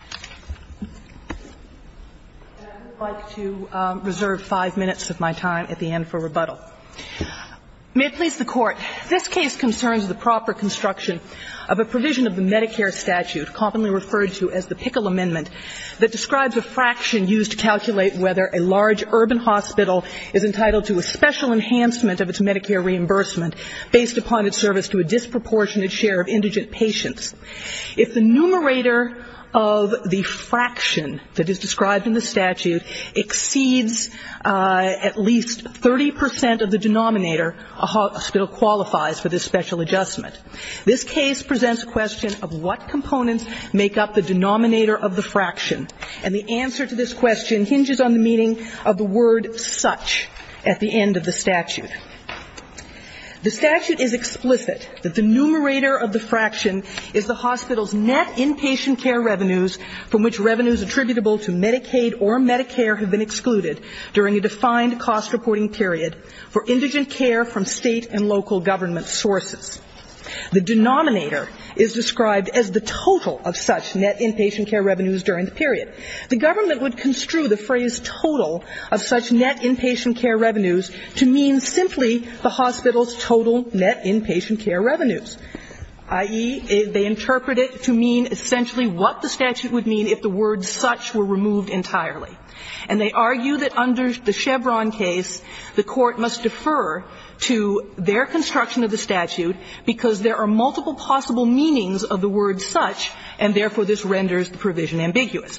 And I would like to reserve five minutes of my time at the end for rebuttal. May it please the Court, this case concerns the proper construction of a provision of the Medicare statute commonly referred to as the Pickle Amendment that describes a fraction used to calculate whether a large urban hospital is entitled to a special enhancement of its Medicare reimbursement based upon its service to a disproportionate share of indigent patients. If the numerator of the fraction that is described in the statute exceeds at least 30 percent of the denominator, a hospital qualifies for this special adjustment. This case presents a question of what components make up the denominator of the fraction, and the answer to this question hinges on the meaning of the word such at the end of the statute. The statute is explicit that the numerator of the fraction is the hospital's net inpatient care revenues from which revenues attributable to Medicaid or Medicare have been excluded during a defined cost-reporting period for indigent care from state and local government sources. The denominator is described as the total of such net inpatient care revenues during the period. The government would construe the phrase total of such net inpatient care revenues to mean simply the hospital's total net inpatient care revenues, i.e., they interpret it to mean essentially what the statute would mean if the word such were removed entirely. And they argue that under the Chevron case, the Court must defer to their construction of the statute because there are multiple possible meanings of the word such, and therefore this renders the provision ambiguous.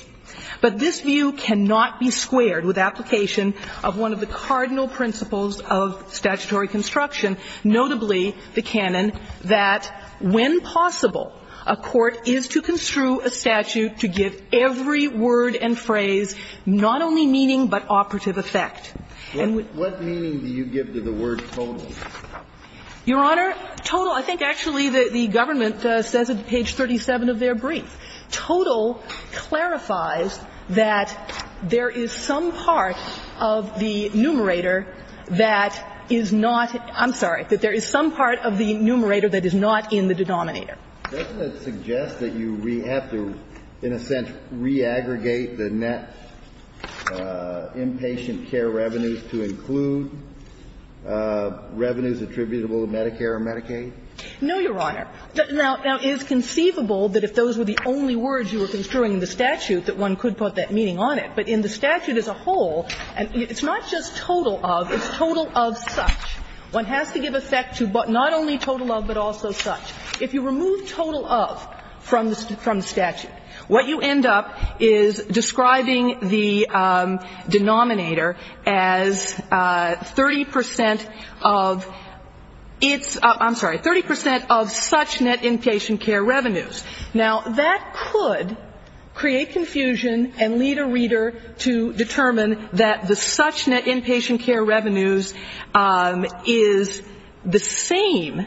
But this view cannot be squared with application of one of the cardinal principles of statutory construction, notably the canon that when possible, a court is to construe a statute to give every word and phrase not only meaning but operative effect. And with the word total, I think actually the government says at page 37 of their brief, total clarifies that there is some part of the numerator that is not ‑‑ I'm sorry, that there is some part of the numerator that is not in the denominator. Doesn't it suggest that you have to, in a sense, re-aggregate the net inpatient care revenues to include revenues attributable to Medicare or Medicaid? No, Your Honor. Now, it is conceivable that if those were the only words you were construing in the statute, that one could put that meaning on it. But in the statute as a whole, it's not just total of, it's total of such. One has to give effect to not only total of but also such. If you remove total of from the statute, what you end up is describing the denominator as 30% of its ‑‑ I'm sorry, 30% of such net inpatient care revenues. Now, that could create confusion and lead a reader to determine that the such net inpatient care revenues is the same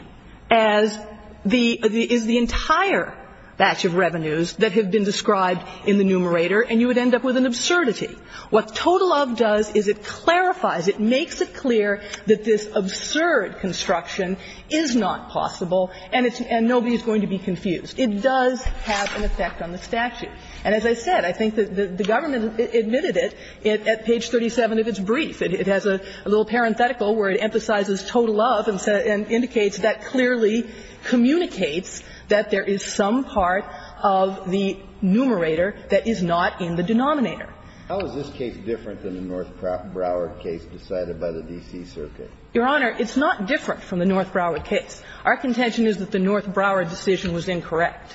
as the ‑‑ is the entire batch of revenues that have been described in the numerator, and you would end up with an absurdity. What total of does is it clarifies, it makes it clear that this absurd construction is not possible and nobody is going to be confused. It does have an effect on the statute. And as I said, I think that the government admitted it at page 37 of its brief. It has a little parenthetical where it emphasizes total of and indicates that clearly communicates that there is some part of the numerator that is not in the denominator. How is this case different than the North Broward case decided by the D.C. Circuit? Your Honor, it's not different from the North Broward case. Our contention is that the North Broward decision was incorrect.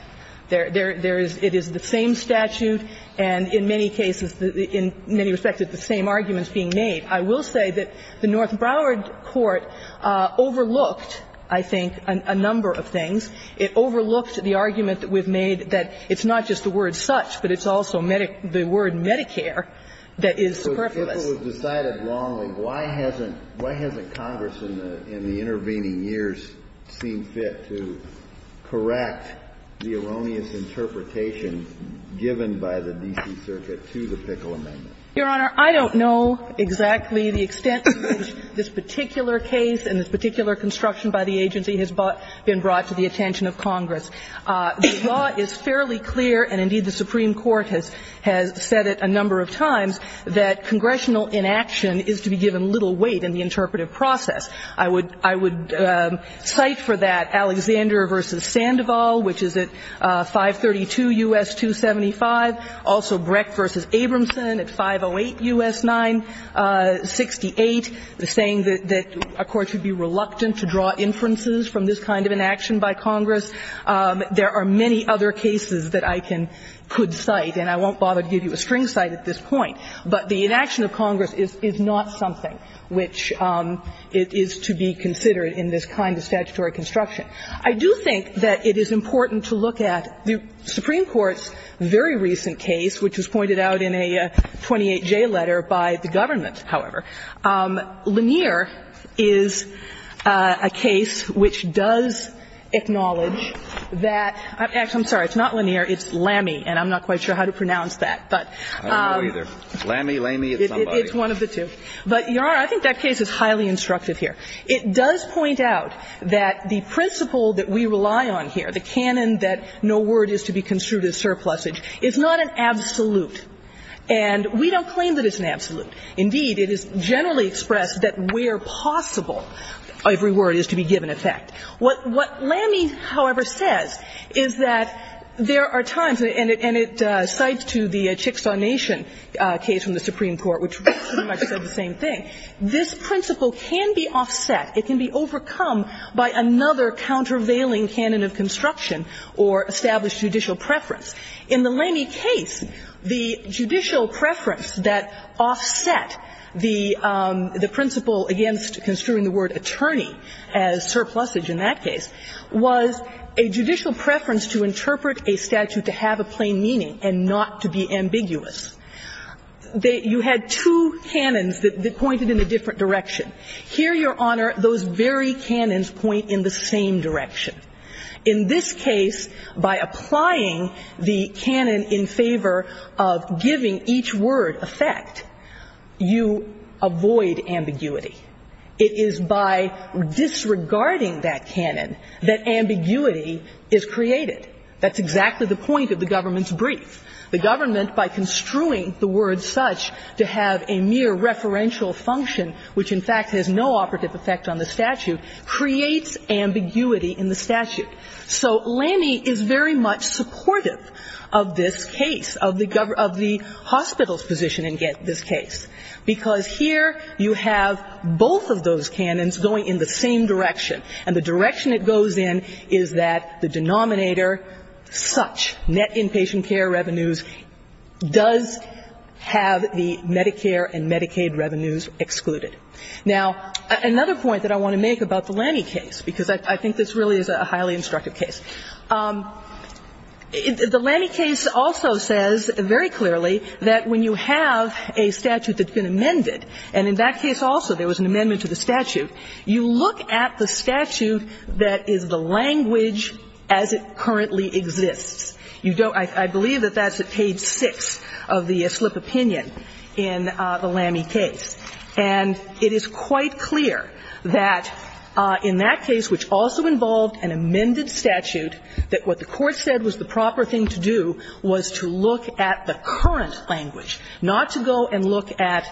There is ‑‑ it is the same statute and in many cases, in many respects, it's the same arguments being made. I will say that the North Broward court overlooked, I think, a number of things. It overlooked the argument that we've made that it's not just the word such, but it's also the word Medicare that is superfluous. If it was decided wrongly, why hasn't ‑‑ why hasn't Congress in the intervening years seen fit to correct the erroneous interpretation given by the D.C. Circuit to the Pickle Amendment? Your Honor, I don't know exactly the extent to which this particular case and this particular construction by the agency has been brought to the attention of Congress. The law is fairly clear, and indeed the Supreme Court has said it a number of times, that congressional inaction is to be given little weight in the interpretive process. I would cite for that Alexander v. Sandoval, which is at 532 U.S. 275, also Brecht v. Abramson at 508 U.S. 968, saying that a court should be reluctant to draw inferences from this kind of inaction by Congress. There are many other cases that I can ‑‑ could cite, and I won't bother to give you a string cite at this point. But the inaction of Congress is not something which is to be considered in this kind of statutory construction. I do think that it is important to look at the Supreme Court's very recent case, which was pointed out in a 28J letter by the government, however. Lanier is a case which does acknowledge that ‑‑ actually, I'm sorry, it's not Lanier, it's Lamy, and I'm not quite sure how to pronounce that. But ‑‑ Kennedy. I don't know either. Lamy, Lamy, it's somebody. It's one of the two. But, Your Honor, I think that case is highly instructive here. It does point out that the principle that we rely on here, the canon that no word is to be construed as surplusage, is not an absolute. And we don't claim that it's an absolute. Indeed, it is generally expressed that where possible, every word is to be given effect. What Lamy, however, says is that there are times, and it cites to the Chickasaw Nation case from the Supreme Court, which pretty much said the same thing. This principle can be offset, it can be overcome by another countervailing canon of construction or established judicial preference. In the Lamy case, the judicial preference that offset the principle against construing the word attorney as surplusage in that case was a judicial preference to interpret a statute to have a plain meaning and not to be ambiguous. You had two canons that pointed in a different direction. Here, Your Honor, those very canons point in the same direction. In this case, by applying the canon in favor of giving each word effect, you avoid ambiguity. It is by disregarding that canon that ambiguity is created. That's exactly the point of the government's brief. The government, by construing the word such to have a mere referential function, which, in fact, has no operative effect on the statute, creates ambiguity in the statute. So Lamy is very much supportive of this case, of the hospital's position in this case, because here you have both of those canons going in the same direction, and the direction it goes in is that the denominator such, net inpatient care revenues, does have the Medicare and Medicaid revenues excluded. Now, another point that I want to make about the Lamy case, because I think this really is a highly instructive case, the Lamy case also says very clearly that when you have a statute that's been amended, and in that case also there was an amendment to the statute, you look at the statute that is the language as it currently exists. You don't – I believe that that's at page 6 of the slip opinion in the Lamy case. And it is quite clear that in that case, which also involved an amended statute, that what the Court said was the proper thing to do was to look at the current language, not to go and look at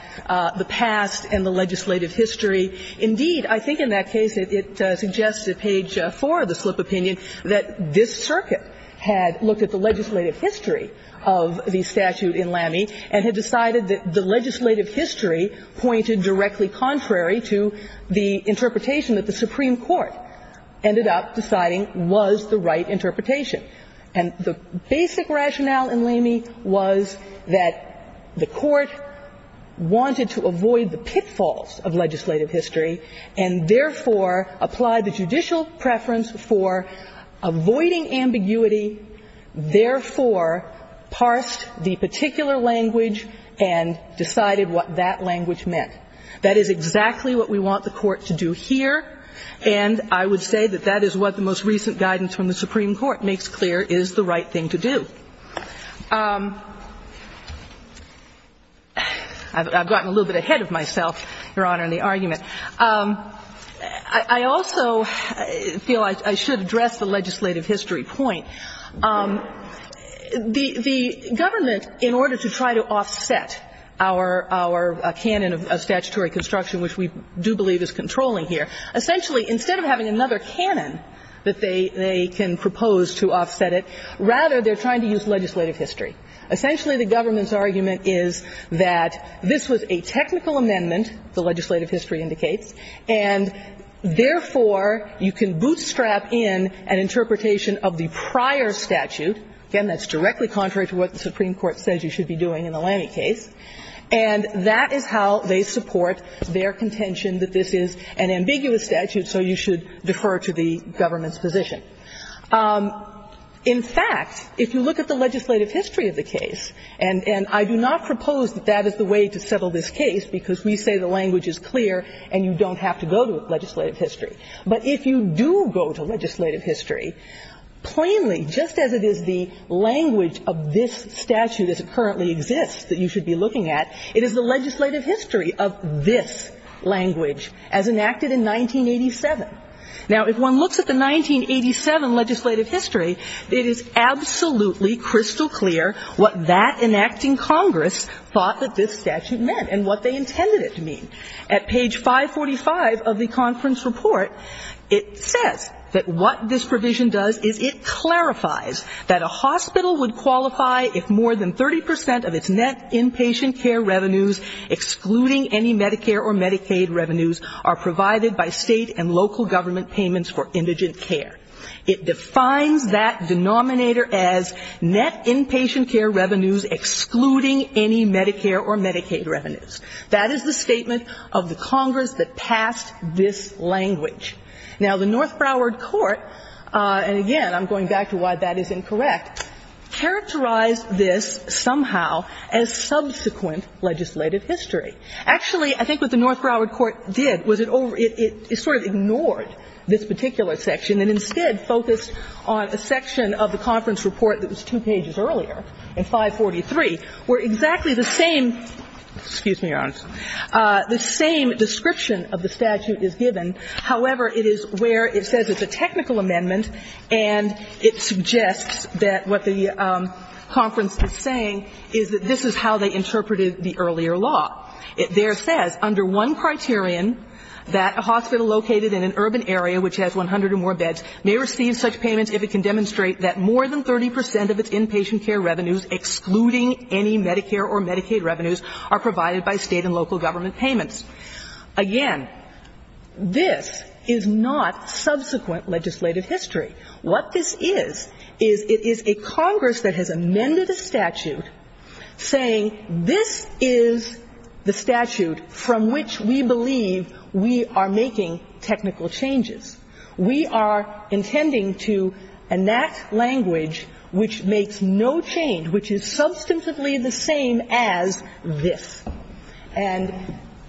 the past and the legislative history. Indeed, I think in that case it suggests at page 4 of the slip opinion that this circuit had looked at the legislative history of the statute in Lamy and had decided that the legislative history pointed directly contrary to the interpretation that the Supreme Court ended up deciding was the right interpretation. And the basic rationale in Lamy was that the Court wanted to avoid the pitfalls of legislative history and therefore applied the judicial preference for avoiding ambiguity, therefore parsed the particular language and decided what that language meant. That is exactly what we want the Court to do here, and I would say that that is what the most recent guidance from the Supreme Court makes clear is the right thing to do. I've gotten a little bit ahead of myself, Your Honor, in the argument. I also feel I should address the legislative history point. The government, in order to try to offset our canon of statutory construction, which we do believe is controlling here, essentially instead of having another canon that they can propose to offset it, rather they're trying to use legislative history. And therefore, you can bootstrap in an interpretation of the prior statute and that's directly contrary to what the Supreme Court says you should be doing in the Lamy case, and that is how they support their contention that this is an ambiguous statute, so you should defer to the government's position. In fact, if you look at the legislative history of the case, and I do not propose that that is the way to settle this case, because we say the language is clear and you don't have to go to legislative history. But if you do go to legislative history, plainly, just as it is the language of this statute as it currently exists that you should be looking at, it is the legislative history of this language as enacted in 1987. Now, if one looks at the 1987 legislative history, it is absolutely crystal clear what that enacting Congress thought that this statute meant and what they intended it to mean. At page 545 of the conference report, it says that what this provision does is it clarifies that a hospital would qualify if more than 30 percent of its net inpatient care revenues, excluding any Medicare or Medicaid revenues, are provided by State and local government payments for indigent care. It defines that denominator as net inpatient care revenues excluding any Medicare or Medicaid revenues. That is the statement of the Congress that passed this language. Now, the North Broward Court, and again, I'm going back to why that is incorrect, characterized this somehow as subsequent legislative history. Actually, I think what the North Broward Court did was it sort of ignored this particular section and instead focused on a section of the conference report that was two pages earlier, in 543, where exactly the same, excuse me, Your Honors, the same description of the statute is given. However, it is where it says it's a technical amendment and it suggests that what the conference is saying is that this is how they interpreted the earlier law. There it says, under one criterion, that a hospital located in an urban area which has 100 or more beds may receive such payments if it can demonstrate that more than 30 percent of its inpatient care revenues, excluding any Medicare or Medicaid revenues, are provided by State and local government payments. Again, this is not subsequent legislative history. What this is, is it is a Congress that has amended the statute saying this is the statute from which we believe we are making technical changes. We are intending to enact language which makes no change, which is substantively the same as this. And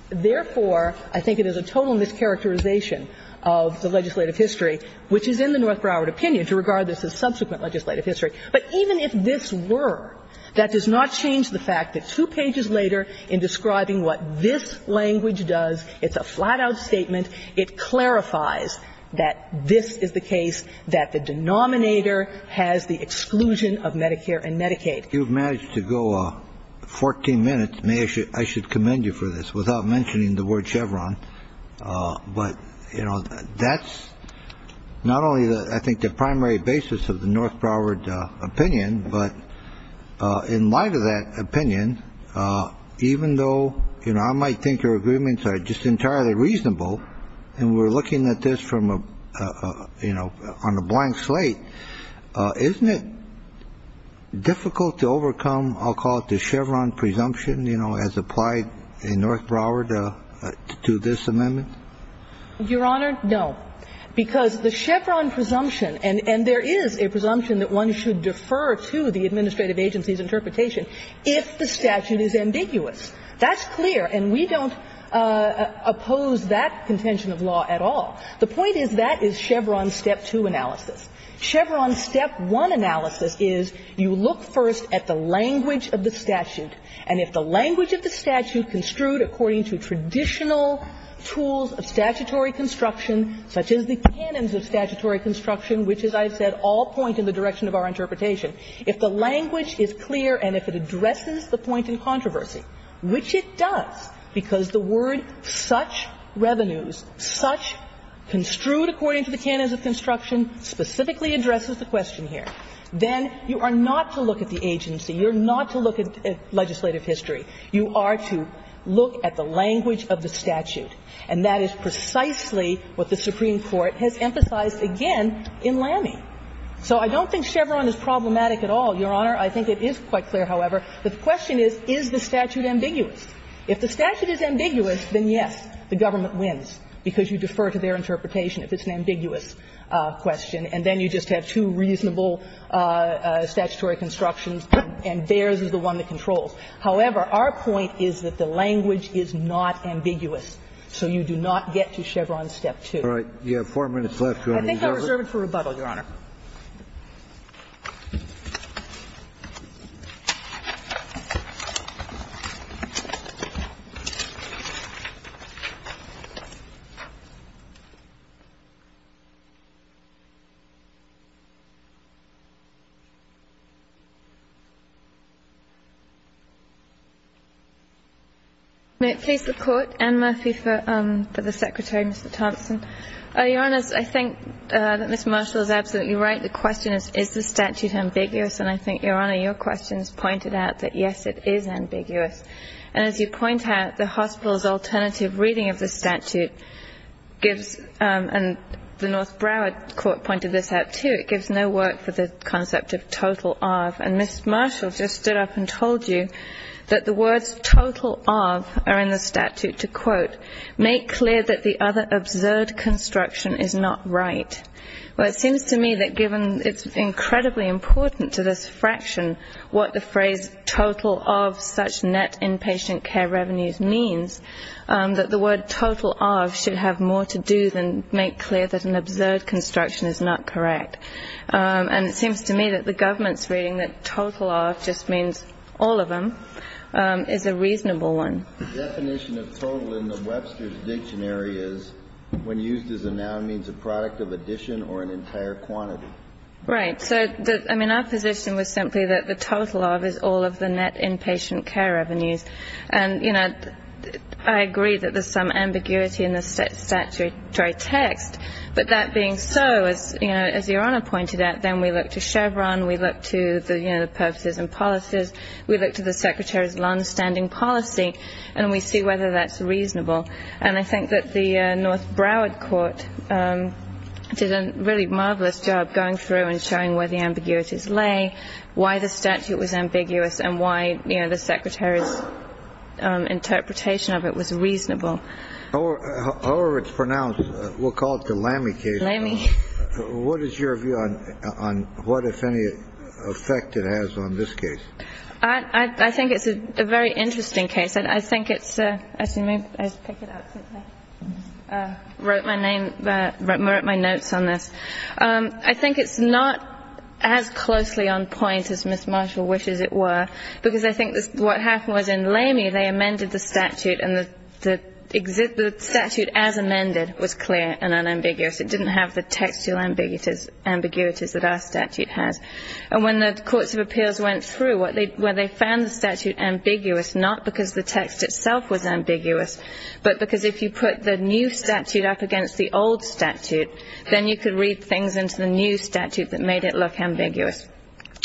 therefore, I think it is a total mischaracterization of the legislative history, which is in the North Broward opinion to regard this as subsequent legislative history. But even if this were, that does not change the fact that two pages later, in describing what this language does, it's a flat-out statement. It clarifies that this is the case, that the denominator has the exclusion of Medicare and Medicaid. You've managed to go 14 minutes. I should commend you for this, without mentioning the word Chevron. But, you know, that's not only, I think, the primary basis of the North Broward opinion, but in light of that opinion, even though, you know, I might think your agreements are just entirely reasonable, and we're looking at this from a, you know, on a blank slate, isn't it difficult to overcome, I'll call it the Chevron presumption, you know, as applied in North Broward to this amendment? Your Honor, no. Because the Chevron presumption, and there is a presumption that one should defer to the administrative agency's interpretation if the statute is ambiguous. That's clear, and we don't oppose that contention of law at all. The point is that is Chevron's Step 2 analysis. Chevron's Step 1 analysis is you look first at the language of the statute, and if the language of the statute construed according to traditional tools of statutory construction, such as the canons of statutory construction, which, as I've said, all point in the direction of our interpretation, if the language is clear and if it addresses the point in controversy, which it does, because the word such revenues, such construed according to the canons of construction, specifically addresses the question here, then you are not to look at the agency. You are not to look at legislative history. You are to look at the language of the statute. And that is precisely what the Supreme Court has emphasized again in Lamey. So I don't think Chevron is problematic at all, Your Honor. I think it is quite clear, however. The question is, is the statute ambiguous? If the statute is ambiguous, then yes, the government wins, because you defer to their two reasonable statutory constructions and theirs is the one that controls. However, our point is that the language is not ambiguous. So you do not get to Chevron's Step 2. Kennedy. You have four minutes left, Your Honor. I think I reserve it for rebuttal, Your Honor. Thank you, Your Honor. May it please the Court, Anne Murphy for the Secretary, Mr. Thompson. Your Honor, I think that Ms. Marshall is absolutely right. The question is, is the statute ambiguous? And I think, Your Honor, your questions pointed out that, yes, it is ambiguous. And as you point out, the hospital's alternative reading of the statute gives, and the North Broward Court pointed this out, too, it gives no work for the concept of total of. And Ms. Marshall just stood up and told you that the words total of are in the statute to, quote, make clear that the other absurd construction is not right. Well, it seems to me that given it's incredibly important to this fraction what the phrase total of such net inpatient care revenues means, that the word total of should have more to do than make clear that an absurd construction is not correct. And it seems to me that the government's reading that total of just means all of them is a reasonable one. The definition of total in the Webster's Dictionary is when used as a noun means a product of addition or an entire quantity. Right. So, I mean, our position was simply that the total of is all of the net inpatient care revenues. And, you know, I agree that there's some ambiguity in the statutory text. But that being so, as, you know, as Your Honor pointed out, then we look to Chevron, we look to the purposes and policies, we look to the secretary's longstanding policy, and we see whether that's reasonable. And I think that the North Broward court did a really marvelous job going through and showing where the ambiguities lay, why the statute was ambiguous, and why the secretary's interpretation of it was reasonable. However it's pronounced, we'll call it the Lamy case. Lamy. What is your view on what, if any, effect it has on this case? I think it's a very interesting case. I think it's a ‑‑ excuse me. I should pick it up since I wrote my notes on this. I think it's not as closely on point as Ms. Marshall wishes it were, because I think what happened was in Lamy they amended the statute and the statute as amended was clear and unambiguous. It didn't have the textual ambiguities that our statute has. And when the courts of appeals went through, where they found the statute ambiguous not because the text itself was ambiguous, but because if you put the new statute up against the old statute, then you could read things into the new statute that made it look ambiguous.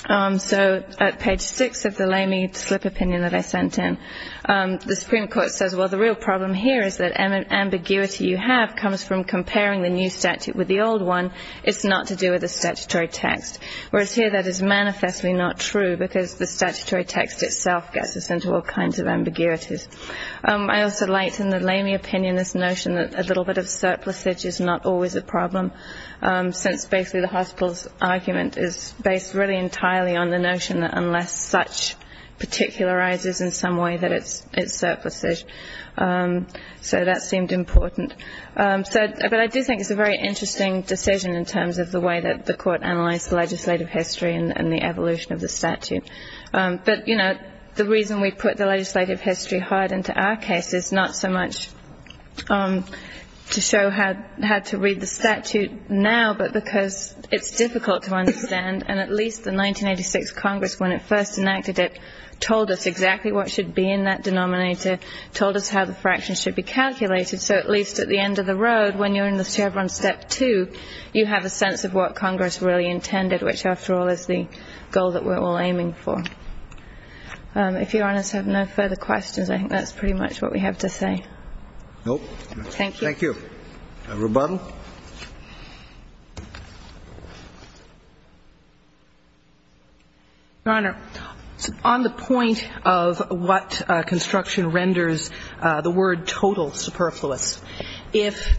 So at page 6 of the Lamy slip opinion that I sent in, the Supreme Court says, well, the real problem here is that ambiguity you have comes from comparing the new statute with the old one. It's not to do with the statutory text, whereas here that is manifestly not true because the statutory text itself gets us into all kinds of ambiguities. I also liked in the Lamy opinion this notion that a little bit of surplusage is not always a problem, since basically the hospital's argument is based really entirely on the notion that such particularizes in some way that it's surplusage. So that seemed important. But I do think it's a very interesting decision in terms of the way that the court analyzed the legislative history and the evolution of the statute. But, you know, the reason we put the legislative history hard into our case is not so much to show how to read the statute now, but because it's difficult to understand, and at least the 1986 Congress, when it first enacted it, told us exactly what should be in that denominator, told us how the fractions should be calculated. So at least at the end of the road, when you're in the server on step 2, you have a sense of what Congress really intended, which, after all, is the goal that we're all aiming for. If Your Honors have no further questions, I think that's pretty much what we have to say. Thank you. Thank you. Rebuttal? Your Honor, on the point of what construction renders the word total superfluous, if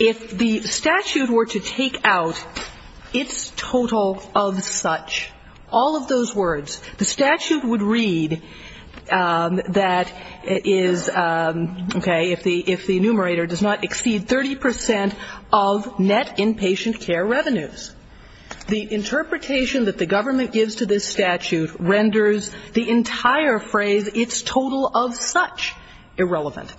the statute were to take out its total of such, all of those words, the statute would read that is, okay, if the numerator does not exceed 30 percent of net inpatient care revenues. The interpretation that the government gives to this statute renders the entire phrase, it's total of such, irrelevant,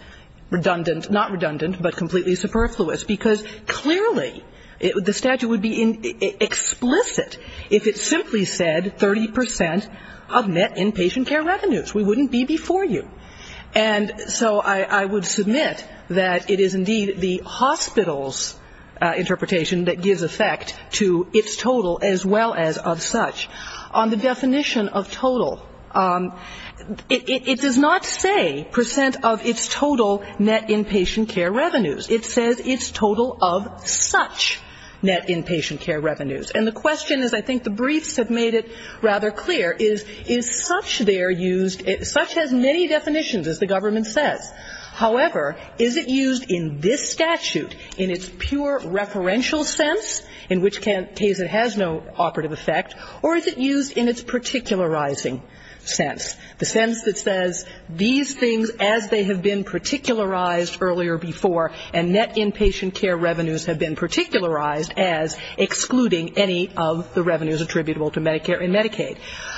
redundant, not redundant, but completely superfluous, because clearly the statute would be explicit if it simply said 30 percent of net inpatient care revenues. We wouldn't be before you. And so I would submit that it is indeed the hospital's interpretation that gives effect to its total as well as of such. On the definition of total, it does not say percent of its total net inpatient care revenues. It says its total of such net inpatient care revenues. And the question is, I think the briefs have made it rather clear, is such there used, such has many definitions, as the government says. However, is it used in this statute in its pure referential sense, in which case it has no operative effect, or is it used in its particularizing sense, the sense that says these things, as they have been particularized earlier before, and net inpatient care revenues have been particularized as excluding any of the revenues attributable to Medicare and Medicaid.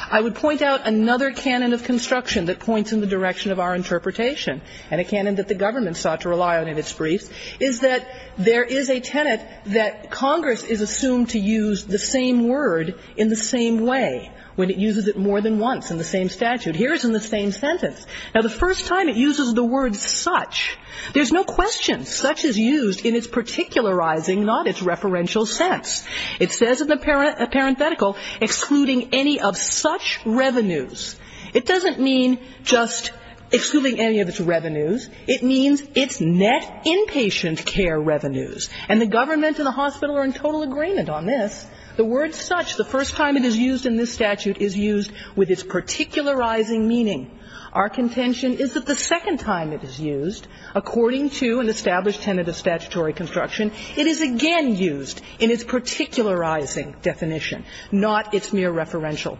I would point out another canon of construction that points in the direction of our interpretation, and a canon that the government sought to rely on in its briefs, is that there is a tenet that Congress is assumed to use the same word in the same way, when it uses it more than once in the same statute. Here it's in the same sentence. Now, the first time it uses the word such, there's no question. Such is used in its particularizing, not its referential sense. It says in the parenthetical, excluding any of such revenues. It doesn't mean just excluding any of its revenues. It means its net inpatient care revenues. And the government and the hospital are in total agreement on this. The word such, the first time it is used in this statute, is used with its particularizing meaning. Our contention is that the second time it is used, according to an established tenet of statutory construction, it is again used in its particularizing definition, not its mere referential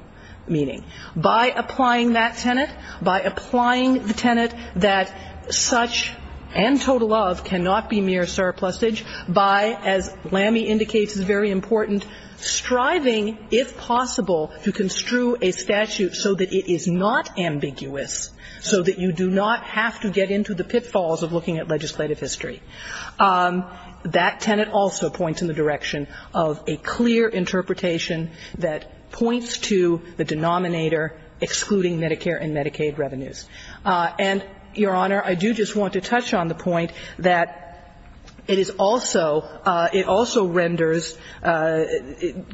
meaning. By applying that tenet, by applying the tenet that such and total of cannot be mere surplusage, by, as Lamy indicates is very important, striving, if possible, to construe a statute so that it is not ambiguous, so that you do not have to get into the pitfalls of looking at legislative history. That tenet also points in the direction of a clear interpretation that points to the denominator excluding Medicare and Medicaid revenues. And, Your Honor, I do just want to touch on the point that it is also, it also renders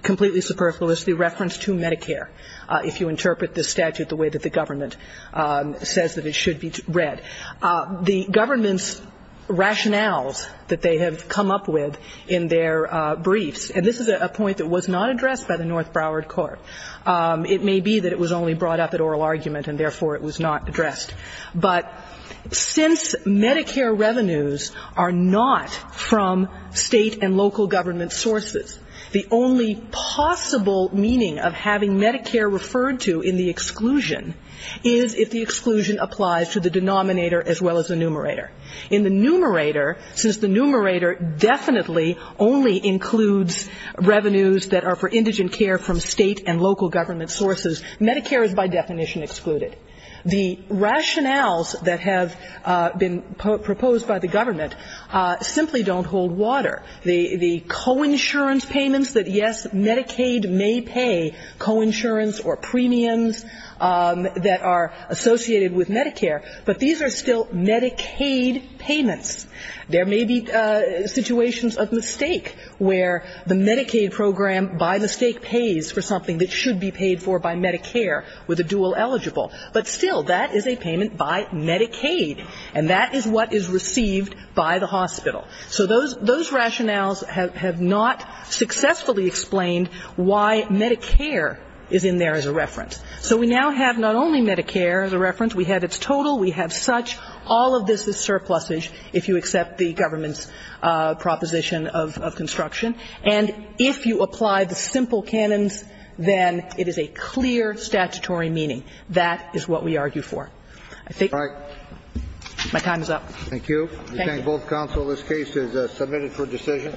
completely superfluously reference to Medicare, if you interpret the statute the way that the government says that it should be read. The government's rationales that they have come up with in their briefs, and this is a point that was not addressed by the North Broward Court. It may be that it was only brought up at oral argument and, therefore, it was not addressed. But since Medicare revenues are not from state and local government sources, the only possible meaning of having Medicare referred to in the exclusion is if the exclusion applies to the denominator as well as the numerator. In the numerator, since the numerator definitely only includes revenues that are for indigent care from state and local government sources, Medicare is by definition excluded. The rationales that have been proposed by the government simply don't hold water. The coinsurance payments that, yes, Medicaid may pay, coinsurance or premiums that are associated with Medicare, but these are still Medicaid payments. There may be situations of mistake where the Medicaid program, by mistake, pays for Medicaid, but still that is a payment by Medicaid, and that is what is received by the hospital. So those rationales have not successfully explained why Medicare is in there as a reference. So we now have not only Medicare as a reference, we have its total, we have such. All of this is surplusage if you accept the government's proposition of construction. And if you apply the simple canons, then it is a clear statutory meaning. That is what we argue for. I think my time is up. Thank you. Thank you. We thank both counsel. This case is submitted for decision.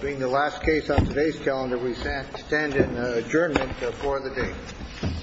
Being the last case on today's calendar, we stand in adjournment for the day. Thank you. Thank you.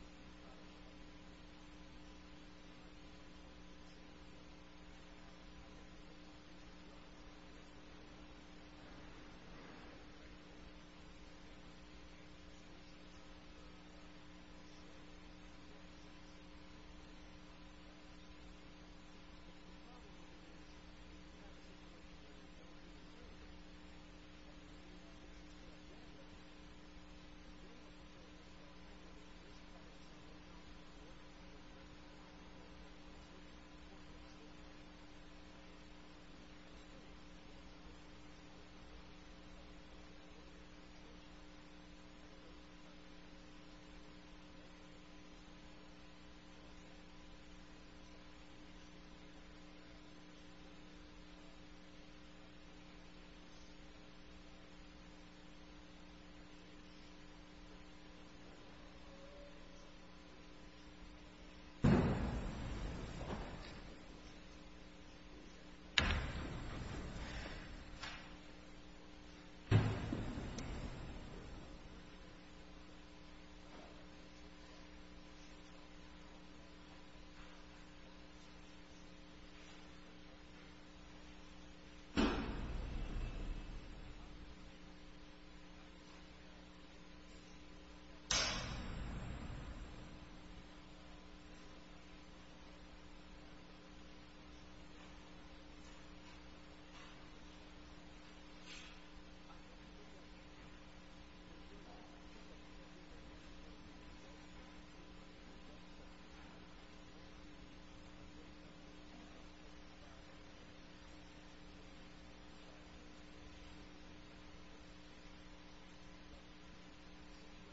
Thank you. Thank you. Thank you. Thank you. Thank you. Thank you. Thank you. Thank you. Thank you.